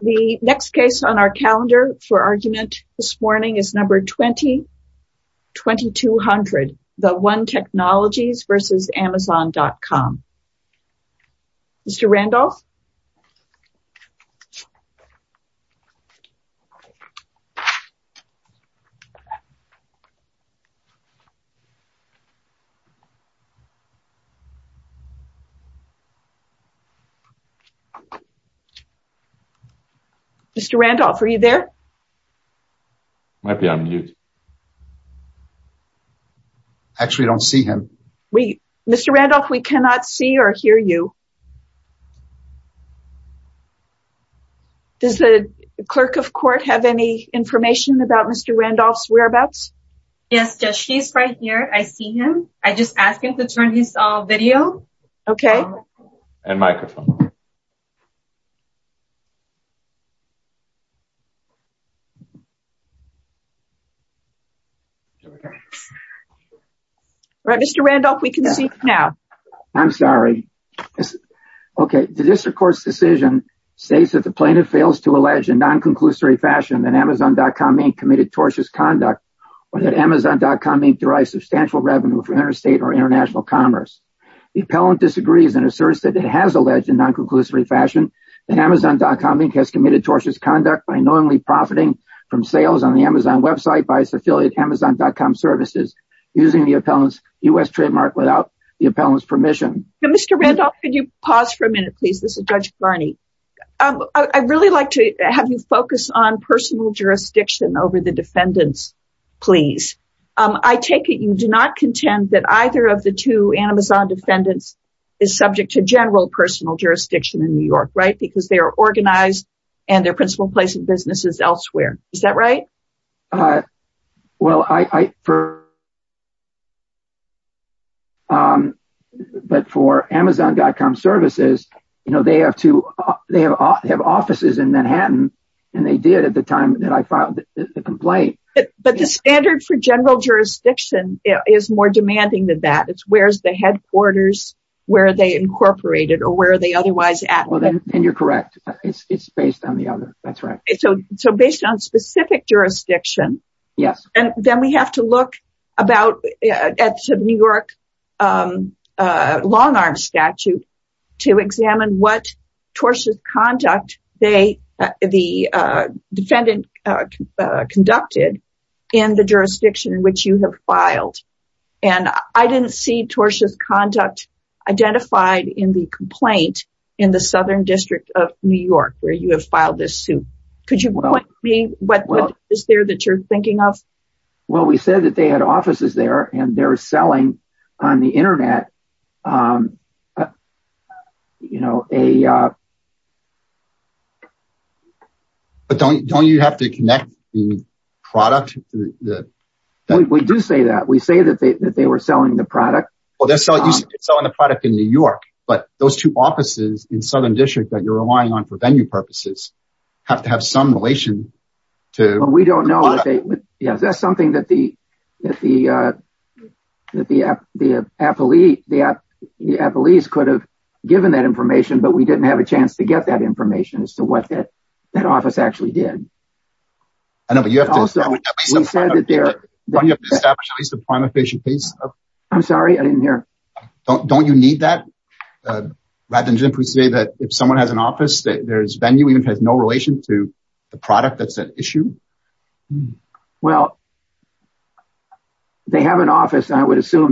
The next case on our calendar for argument this morning is number 20-2200, The One Technologies v. Amazon.com. Mr. Randolph? Mr. Randolph, are you there? Actually, I don't see him. Mr. Randolph, we cannot see or hear you. Does the clerk of court have any information about Mr. Randolph's whereabouts? Yes, she's right here. I see you. Mr. Randolph, we can see you now. I'm sorry. Okay, the district court's decision states that the plaintiff fails to allege in non-conclusory fashion that Amazon.com Inc. committed tortious conduct or that Amazon.com Inc. derives substantial revenue from interstate or international commerce. The appellant disagrees and asserts that it has alleged in non-conclusory fashion that Amazon.com Inc. has committed tortious conduct by knowingly profiting from sales on the Amazon website by its affiliate, Amazon.com Services, using the appellant's U.S. trademark without the appellant's permission. Mr. Randolph, could you pause for a minute, please? This is Judge Blarney. I'd really like to have you focus on personal jurisdiction over the defendants, please. I take it you do not contend that either of the two Amazon defendants is subject to general personal jurisdiction in New York, right? Because they are organized and their principal place of business is elsewhere. Is that right? Well, but for Amazon.com Services, they have offices in Manhattan and they did at the time that I filed the complaint. But the standard for general jurisdiction is more demanding than that. It's where's the headquarters, where are they incorporated or where are they otherwise at? Well, then you're correct. It's based on the other. That's right. So based on specific jurisdiction. Yes. And then we have to look at the New York long arm statute to examine what tortious conduct the defendant conducted in the jurisdiction in which you have filed. And I didn't see tortious conduct identified in the complaint in the Southern District of New York where you have filed this suit. Could you point me what is there that you're thinking of? Well, we said that they had offices there and they're selling on the Internet. But don't you have to connect the product? We do say that. We say that they were selling the product. Well, they're selling the product in New York. But those two offices in Southern District that you're relying on for venue purposes have to have some relation to. We don't know that. Yes, that's something that the appellees could have given that information, but we didn't have a chance to get that information as to what that office actually did. I know, but you have to establish at least a prima facie case. I'm sorry, I didn't hear. Don't you need that? Rather than simply say that if someone has an office, I would assume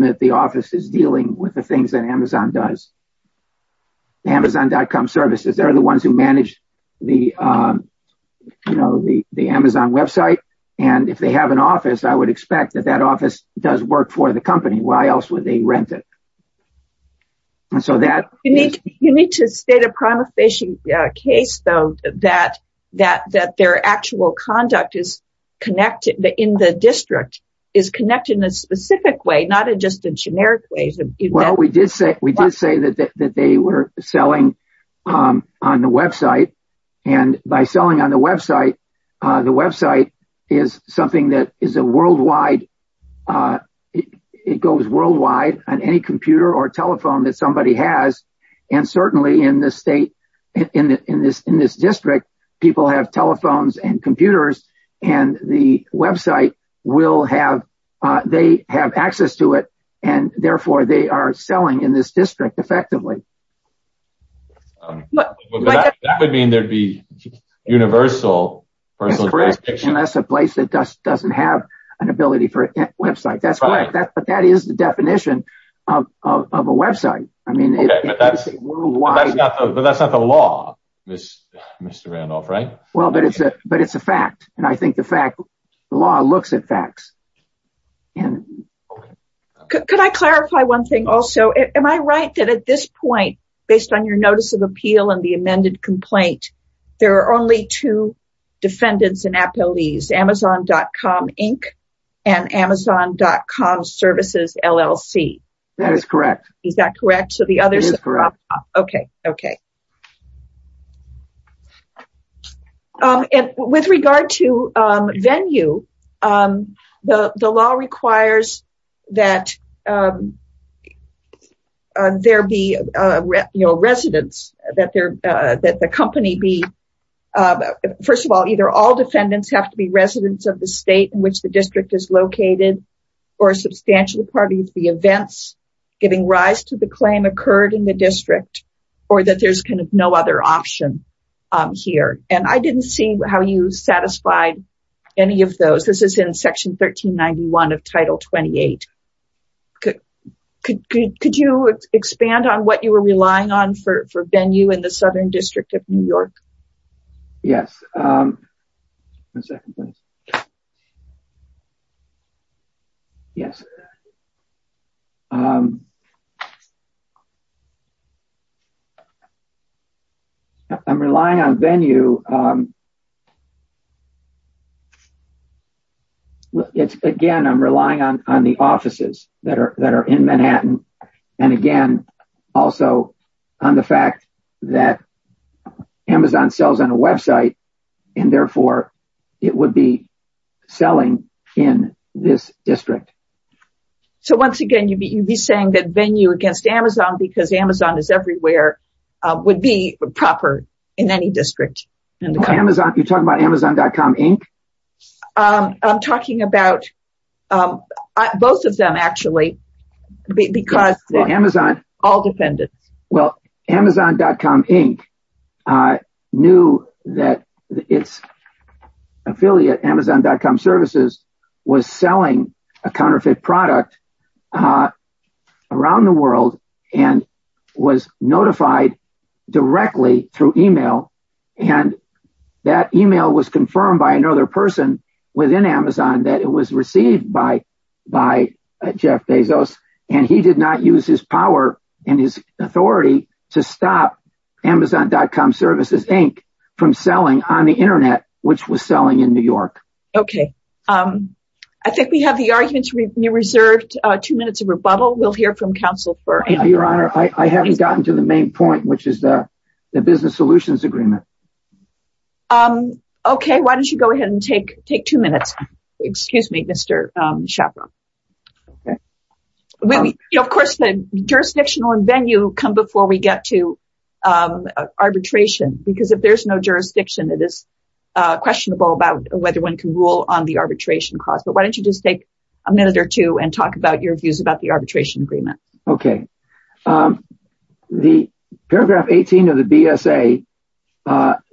that the office is dealing with the things that Amazon does. Amazon.com services, they're the ones who manage the Amazon website. And if they have an office, I would expect that that office does work for the company. Why else would they rent it? You need to state a prima facie case, though, that their actual conduct in the district is connected in a specific way, not just a generic way. We did say that they were selling on the website. And by selling on the website, the website is something that is a worldwide. It goes worldwide on any computer or telephone that somebody has. And certainly in this state, in this district, people have telephones and computers and the website will have they have access to it. And therefore, they are selling in this district effectively. But that would mean there'd be universal. And that's a place that doesn't have an ability for a website. That's right. But that is the definition of a website. I mean, that's not the law, Mr. Randolph, right? Well, but it's a fact. And I think the fact the law looks at facts. And could I clarify one thing? Also, am I right that at this point, based on your notice of appeal and the amended complaint, there are only two defendants and appellees Amazon.com Inc. and Amazon.com services LLC. That is correct. Is that correct? So the others? Okay. Okay. Okay. And with regard to venue, the law requires that there be, you know, residents that there that the company be, first of all, either all defendants have to be residents of the state in which the district is located, or a substantial part of the events, giving rise to the claim occurred in the district, or that there's kind of no other option here. And I didn't see how you satisfied any of those. This is in Section 1391 of Title 28. Could you expand on what you were relying on for venue in the Southern District of New York? Yes. Yes. I'm relying on venue. Again, I'm relying on the offices that are that are in Manhattan. And again, also, on the fact that Amazon sells on a website, and therefore, it would be selling in this district. So once again, you'd be you'd be saying that venue against Amazon, because Amazon is everywhere, would be proper in any district. Amazon, you're talking about Amazon.com, Inc. I'm talking about both of them, actually. Because Amazon, all defendants, well, Amazon.com, Inc. knew that its affiliate Amazon.com services was selling a counterfeit product around the world, and was notified directly through email. And that email was confirmed by another person within Amazon that it was received by by Jeff Bezos. And he did not use his power and his authority to stop Amazon.com services, Inc. from selling on the internet, which was selling in New York. Okay. I think we have the arguments reserved two minutes of rebuttal. We'll hear from counsel for your honor. I haven't gotten to the main point, which is the business solutions agreement. Okay, why don't you go ahead and take take two minutes? Excuse me, Mr. Shapiro. Of course, the jurisdictional and venue come before we get to arbitration, because if there's no jurisdiction, it is questionable about whether one can rule on the arbitration clause. But why don't you just take a minute or two and talk about your views about the arbitration agreement? Okay. The paragraph 18 of the BSA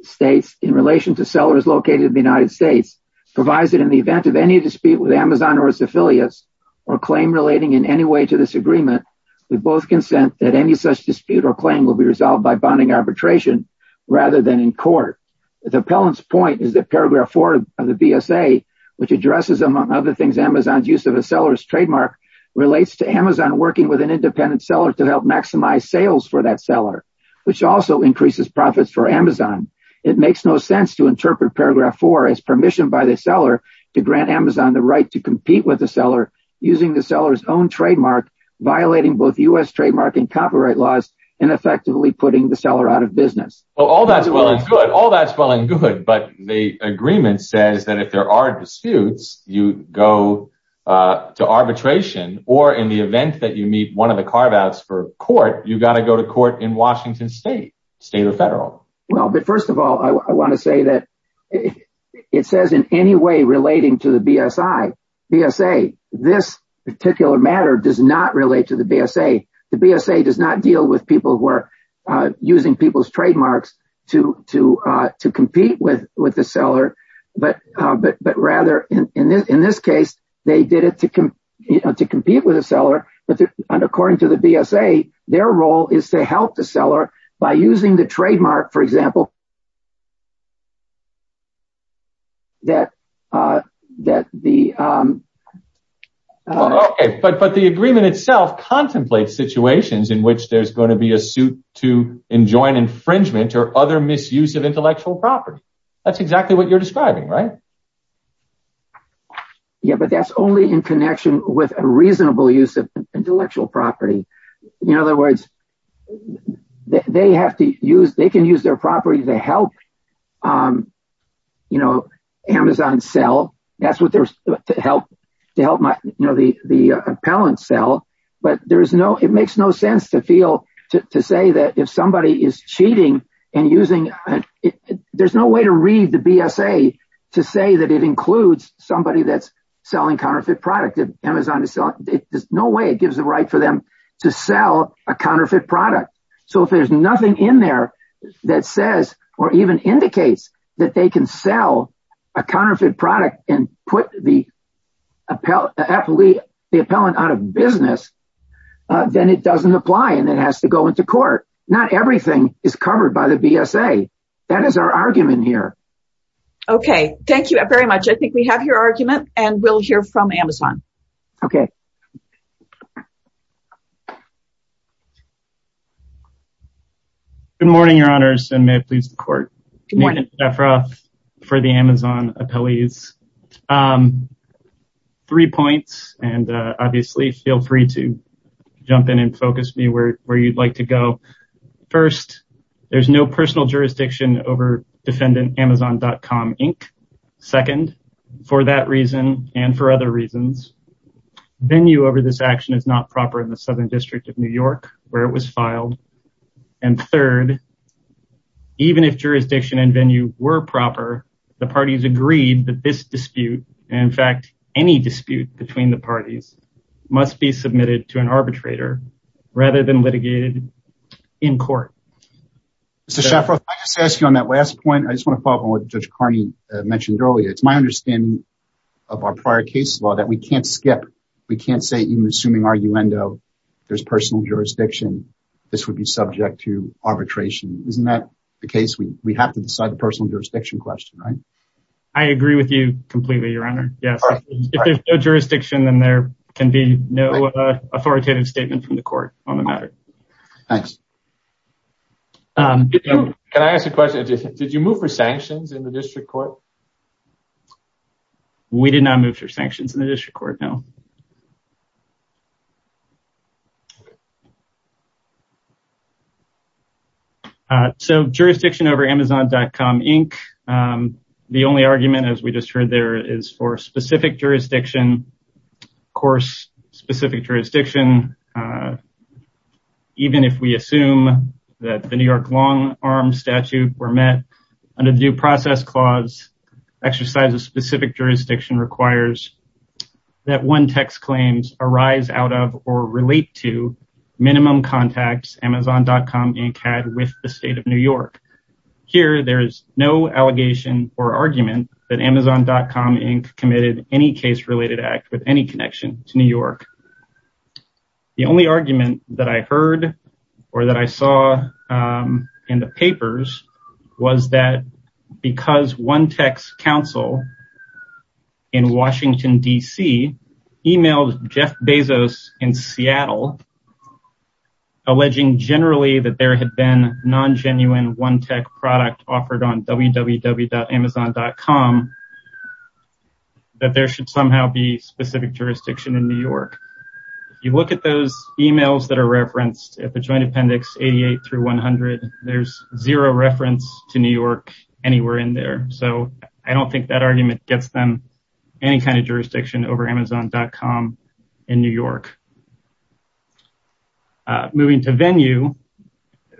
states, in relation to sellers located in the United States, provides that in the event of any dispute with Amazon or its affiliates, or claim relating in any way to this agreement, we both consent that any such dispute or claim will be resolved by bonding arbitration, rather than in court. The appellant's point is that paragraph four of the BSA, which addresses, among other things, Amazon's use of a seller's trademark, relates to Amazon working with an for Amazon. It makes no sense to interpret paragraph four as permission by the seller to grant Amazon the right to compete with the seller, using the seller's own trademark, violating both US trademark and copyright laws, and effectively putting the seller out of business. Well, all that's well and good. All that's well and good. But the agreement says that if there are disputes, you go to arbitration, or in the event that you meet one of the carve outs for court in Washington state, state or federal. Well, but first of all, I want to say that it says in any way relating to the BSA, this particular matter does not relate to the BSA. The BSA does not deal with people who are using people's trademarks to compete with the seller. But rather, in this case, they did it to compete with a seller. But according to the BSA, their role is to help the seller by using the trademark, for example, that that the Okay, but but the agreement itself contemplates situations in which there's going to be a suit to enjoin infringement or other misuse of intellectual property. That's exactly what you're describing, right? Yeah, but that's only in connection with a reasonable use of In other words, they have to use they can use their property to help You know, Amazon sell. That's what there's to help to help my know the the appellant sell, but there is no it makes no sense to feel to say that if somebody is cheating and using There's no way to read the BSA to say that it includes somebody that's selling counterfeit So there's no way it gives the right for them to sell a counterfeit product. So if there's nothing in there that says or even indicates that they can sell a counterfeit product and put the appellate the appellant out of business, then it doesn't apply and it has to go into court. Not everything is covered by the BSA. That is our argument here. Okay, thank you very much. I think we have your argument and we'll hear from Amazon. Okay. Good morning, your honors and may it please the court. Good morning. Jeff Roth for the Amazon appellees. Three points and obviously feel free to jump in and focus me where you'd like to go. First, there's no personal jurisdiction over defendant Amazon.com Inc. Second, for that reason, and for other reasons, venue over this action is not proper in the Southern District of New York, where it was filed. And third, even if jurisdiction and venue were proper, the parties agreed that this dispute, in fact, any dispute between the parties must be submitted to an arbitrator, rather than litigated in court. Mr. Shaffer, I just ask you on that last point, I just want to follow up on what Judge Carney mentioned earlier. It's my understanding of our prior case law that we can't skip. We can't say even assuming arguendo, there's personal jurisdiction, this would be subject to arbitration. Isn't that the case? We have to decide the personal jurisdiction question, right? I agree with you completely, your honor. Yes, if there's no jurisdiction, then there can be no authoritative statement from the court on the matter. Thanks. Can I ask a question? Did you move for sanctions in the district court? We did not move for sanctions in the district court, no. So, jurisdiction over Amazon.com Inc. The only argument, as we just heard there, is for specific jurisdiction. Of course, specific jurisdiction, even if we assume that the New York long arm statute were met, under the due process clause, exercise of specific jurisdiction requires that one text claims arise out of or relate to minimum contacts Amazon.com Inc. had with the state of New York. Here, there is no allegation or argument that Amazon.com Inc. committed any case-related act with any connection to New York. The only argument that I heard or that I saw in the papers was that because One Tech's counsel in Washington, D.C. emailed Jeff Bezos in Seattle, alleging generally that there had been non-genuine One Tech product offered on www.amazon.com, that there should somehow be specific jurisdiction in New York. If you look at those emails that are referenced at the joint appendix 88 through 100, there's zero reference to New York anywhere in there. So, I don't think that argument gets them any kind of jurisdiction over Amazon.com in New York. Moving to venue,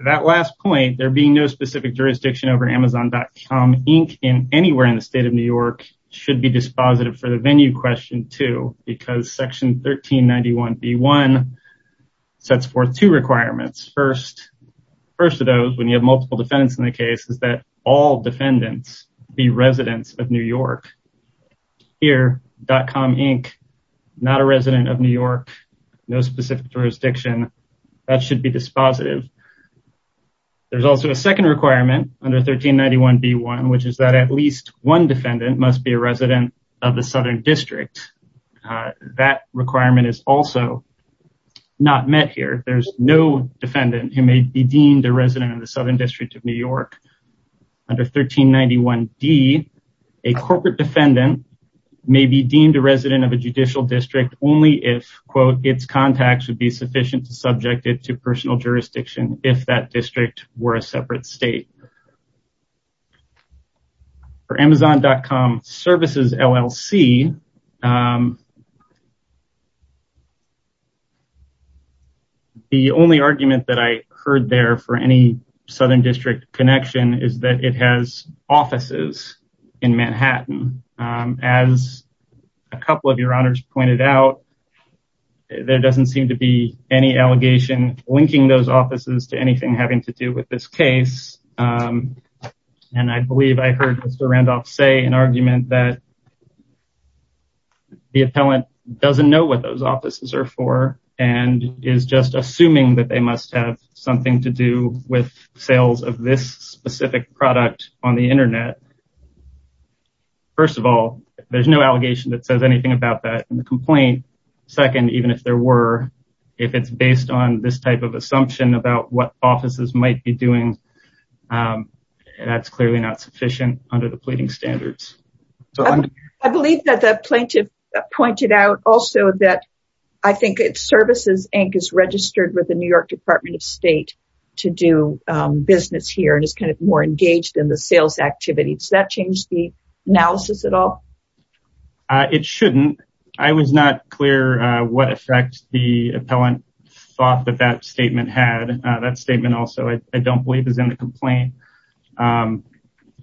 that last point, there being no specific jurisdiction over Amazon.com Inc. anywhere in the state of New York should be dispositive for the venue question, too, because section 1391b1 sets forth two requirements. First of those, when you have multiple defendants in the case, is that all defendants be residents of New York. Here, .com Inc., not a resident of New York, no specific jurisdiction, that should be dispositive. There's also a second requirement under 1391b1, which is that at least one defendant must be a resident of the Southern District. That requirement is also not met here. There's no defendant who may be deemed a resident of the Southern District of New York. Under 1391d, a corporate defendant may be deemed a resident of a judicial district only if, quote, its contacts would be sufficient to subject it to personal jurisdiction if that district were a separate state. For Amazon.com Services, LLC, the only argument that I heard there for any Southern District connection is that it has offices in Manhattan. As a couple of your honors pointed out, there doesn't seem to be any allegation linking those offices to anything having to do with this case. And I believe I heard Mr. Randolph say an argument that the appellant doesn't know what those offices are for and is just assuming that they must have something to do with sales of this specific product on the internet. First of all, there's no allegation that says anything about that in the complaint. Second, even if there were, if it's based on this type of assumption about what offices might be doing, that's clearly not sufficient under the pleading standards. I believe that the plaintiff pointed out also that I think it's Services, Inc. is registered with the New York Department of State to do business here and is kind of more engaged in the sales activities. Does that change the analysis at all? It shouldn't. I was not clear what effect the appellant thought that that statement had. That statement also, I don't believe, is in the complaint.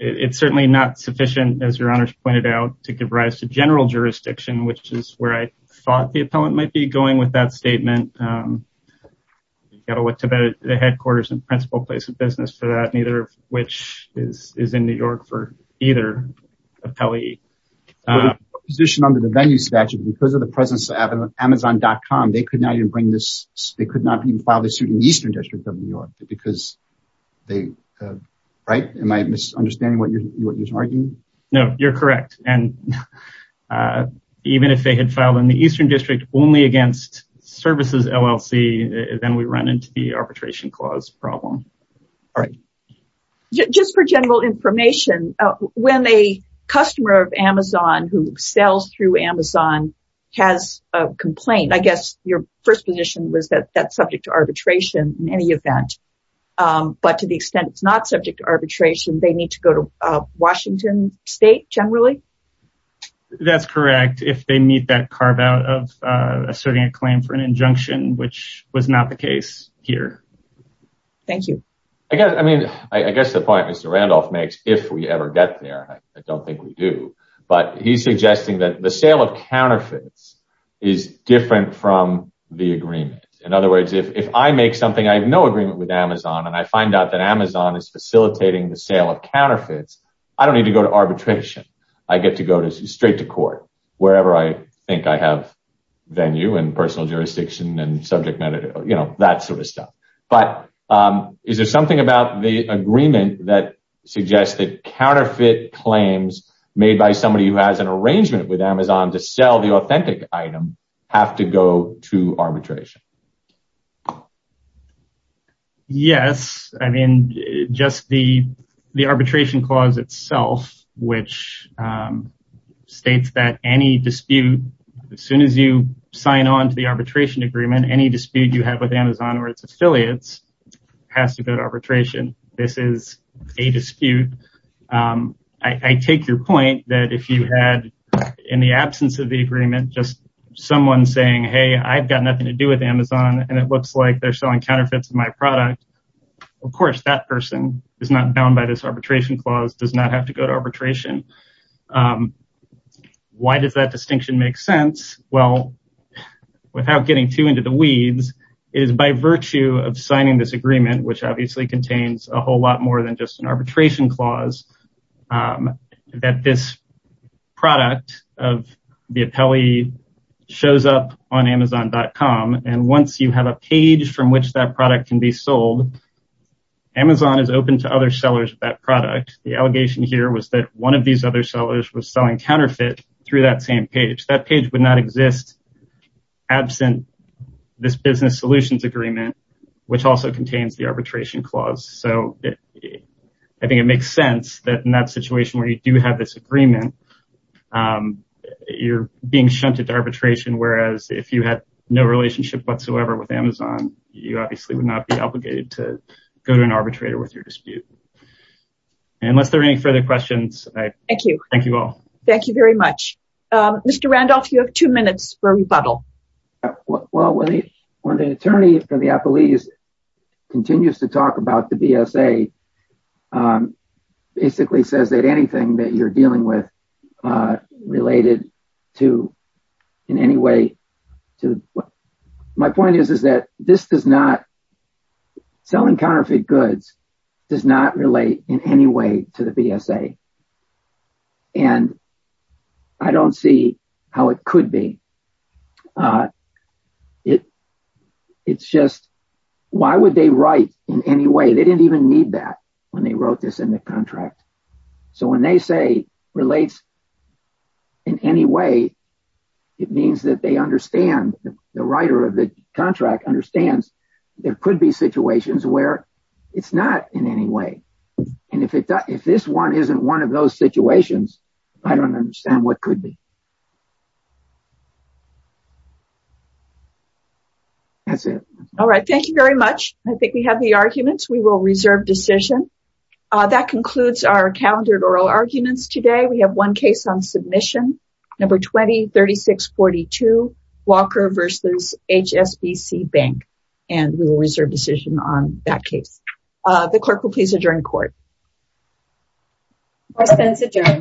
It's certainly not sufficient, as your honors pointed out, to give rise to general jurisdiction, which is where I thought the appellant might be going with that statement. You've got to look to the headquarters and principal place of business for that, which is in New York for either appellee. But the position under the venue statute, because of the presence of Amazon.com, they could not even bring this, they could not even file this suit in the Eastern District of New York, because they, right? Am I misunderstanding what you're arguing? No, you're correct. And even if they had filed in the Eastern District, only against Services, LLC, then we run into the arbitration clause problem. All right. Just for general information, when a customer of Amazon who sells through Amazon has a complaint, I guess your first position was that that's subject to arbitration in any event. But to the extent it's not subject to arbitration, they need to go to Washington State, generally? That's correct. If they meet that carve out of asserting a claim for an injunction, which was not the case here. Thank you. I guess, I mean, I guess the point Mr. Randolph makes, if we ever get there, I don't think we do. But he's suggesting that the sale of counterfeits is different from the agreement. In other words, if I make something, I have no agreement with Amazon, and I find out that Amazon is facilitating the sale of counterfeits, I don't need to go to arbitration. I get to go straight to court, wherever I think I have venue and personal jurisdiction and subject matter, you know, that sort of stuff. But is there something about the agreement that suggests that counterfeit claims made by somebody who has an arrangement with Amazon to sell the authentic item have to go to arbitration? Yes. I mean, just the arbitration clause itself, which states that any dispute, as soon as you sign on to the arbitration agreement, any dispute you have with Amazon or its affiliates has to go to arbitration. This is a dispute. I take your point that if you had in the absence of the agreement, just someone saying, hey, I've got nothing to do with Amazon, and it looks like they're selling counterfeits to my product. Of course, that person is not bound by this arbitration clause, does not have to go to arbitration. Why does that distinction make sense? Well, without getting too into the weeds, it is by virtue of signing this agreement, which obviously contains a whole lot more than just an arbitration clause, that this product of the appellee shows up on amazon.com. And once you have a page from which that product can be sold, Amazon is open to other sellers of that product. The allegation here was that one of these other sellers was selling counterfeit through that same page. That page would not exist absent this business solutions agreement, which also contains the arbitration clause. So I think it makes sense that in that situation where you do have this agreement, you're being shunted to arbitration, whereas if you had no relationship whatsoever with Amazon, you obviously would not be obligated to go to an arbitrator with your dispute. And unless there are any further questions, I thank you all. Thank you very much. Mr. Randolph, you have two minutes for rebuttal. Well, when the attorney for the appellees continues to talk about the BSA, basically says that anything that you're dealing with related to in any way to what my point is, is that this does not selling counterfeit goods does not relate in any way to the BSA. And I don't see how it could be. It's just, why would they write in any way? They didn't even need that when they wrote this in the contract. So when they say relates in any way, it means that they understand the writer of the contract understands there could be situations where it's not in any way. And if this one isn't one of those situations, I don't understand what could be. That's it. All right. Thank you very much. I think we have the arguments. We will reserve decision. That concludes our calendar oral arguments today. We have one case on submission, number 203642, Walker versus HSBC Bank. And we will reserve decision on that case. The clerk will please adjourn court. Court is adjourned.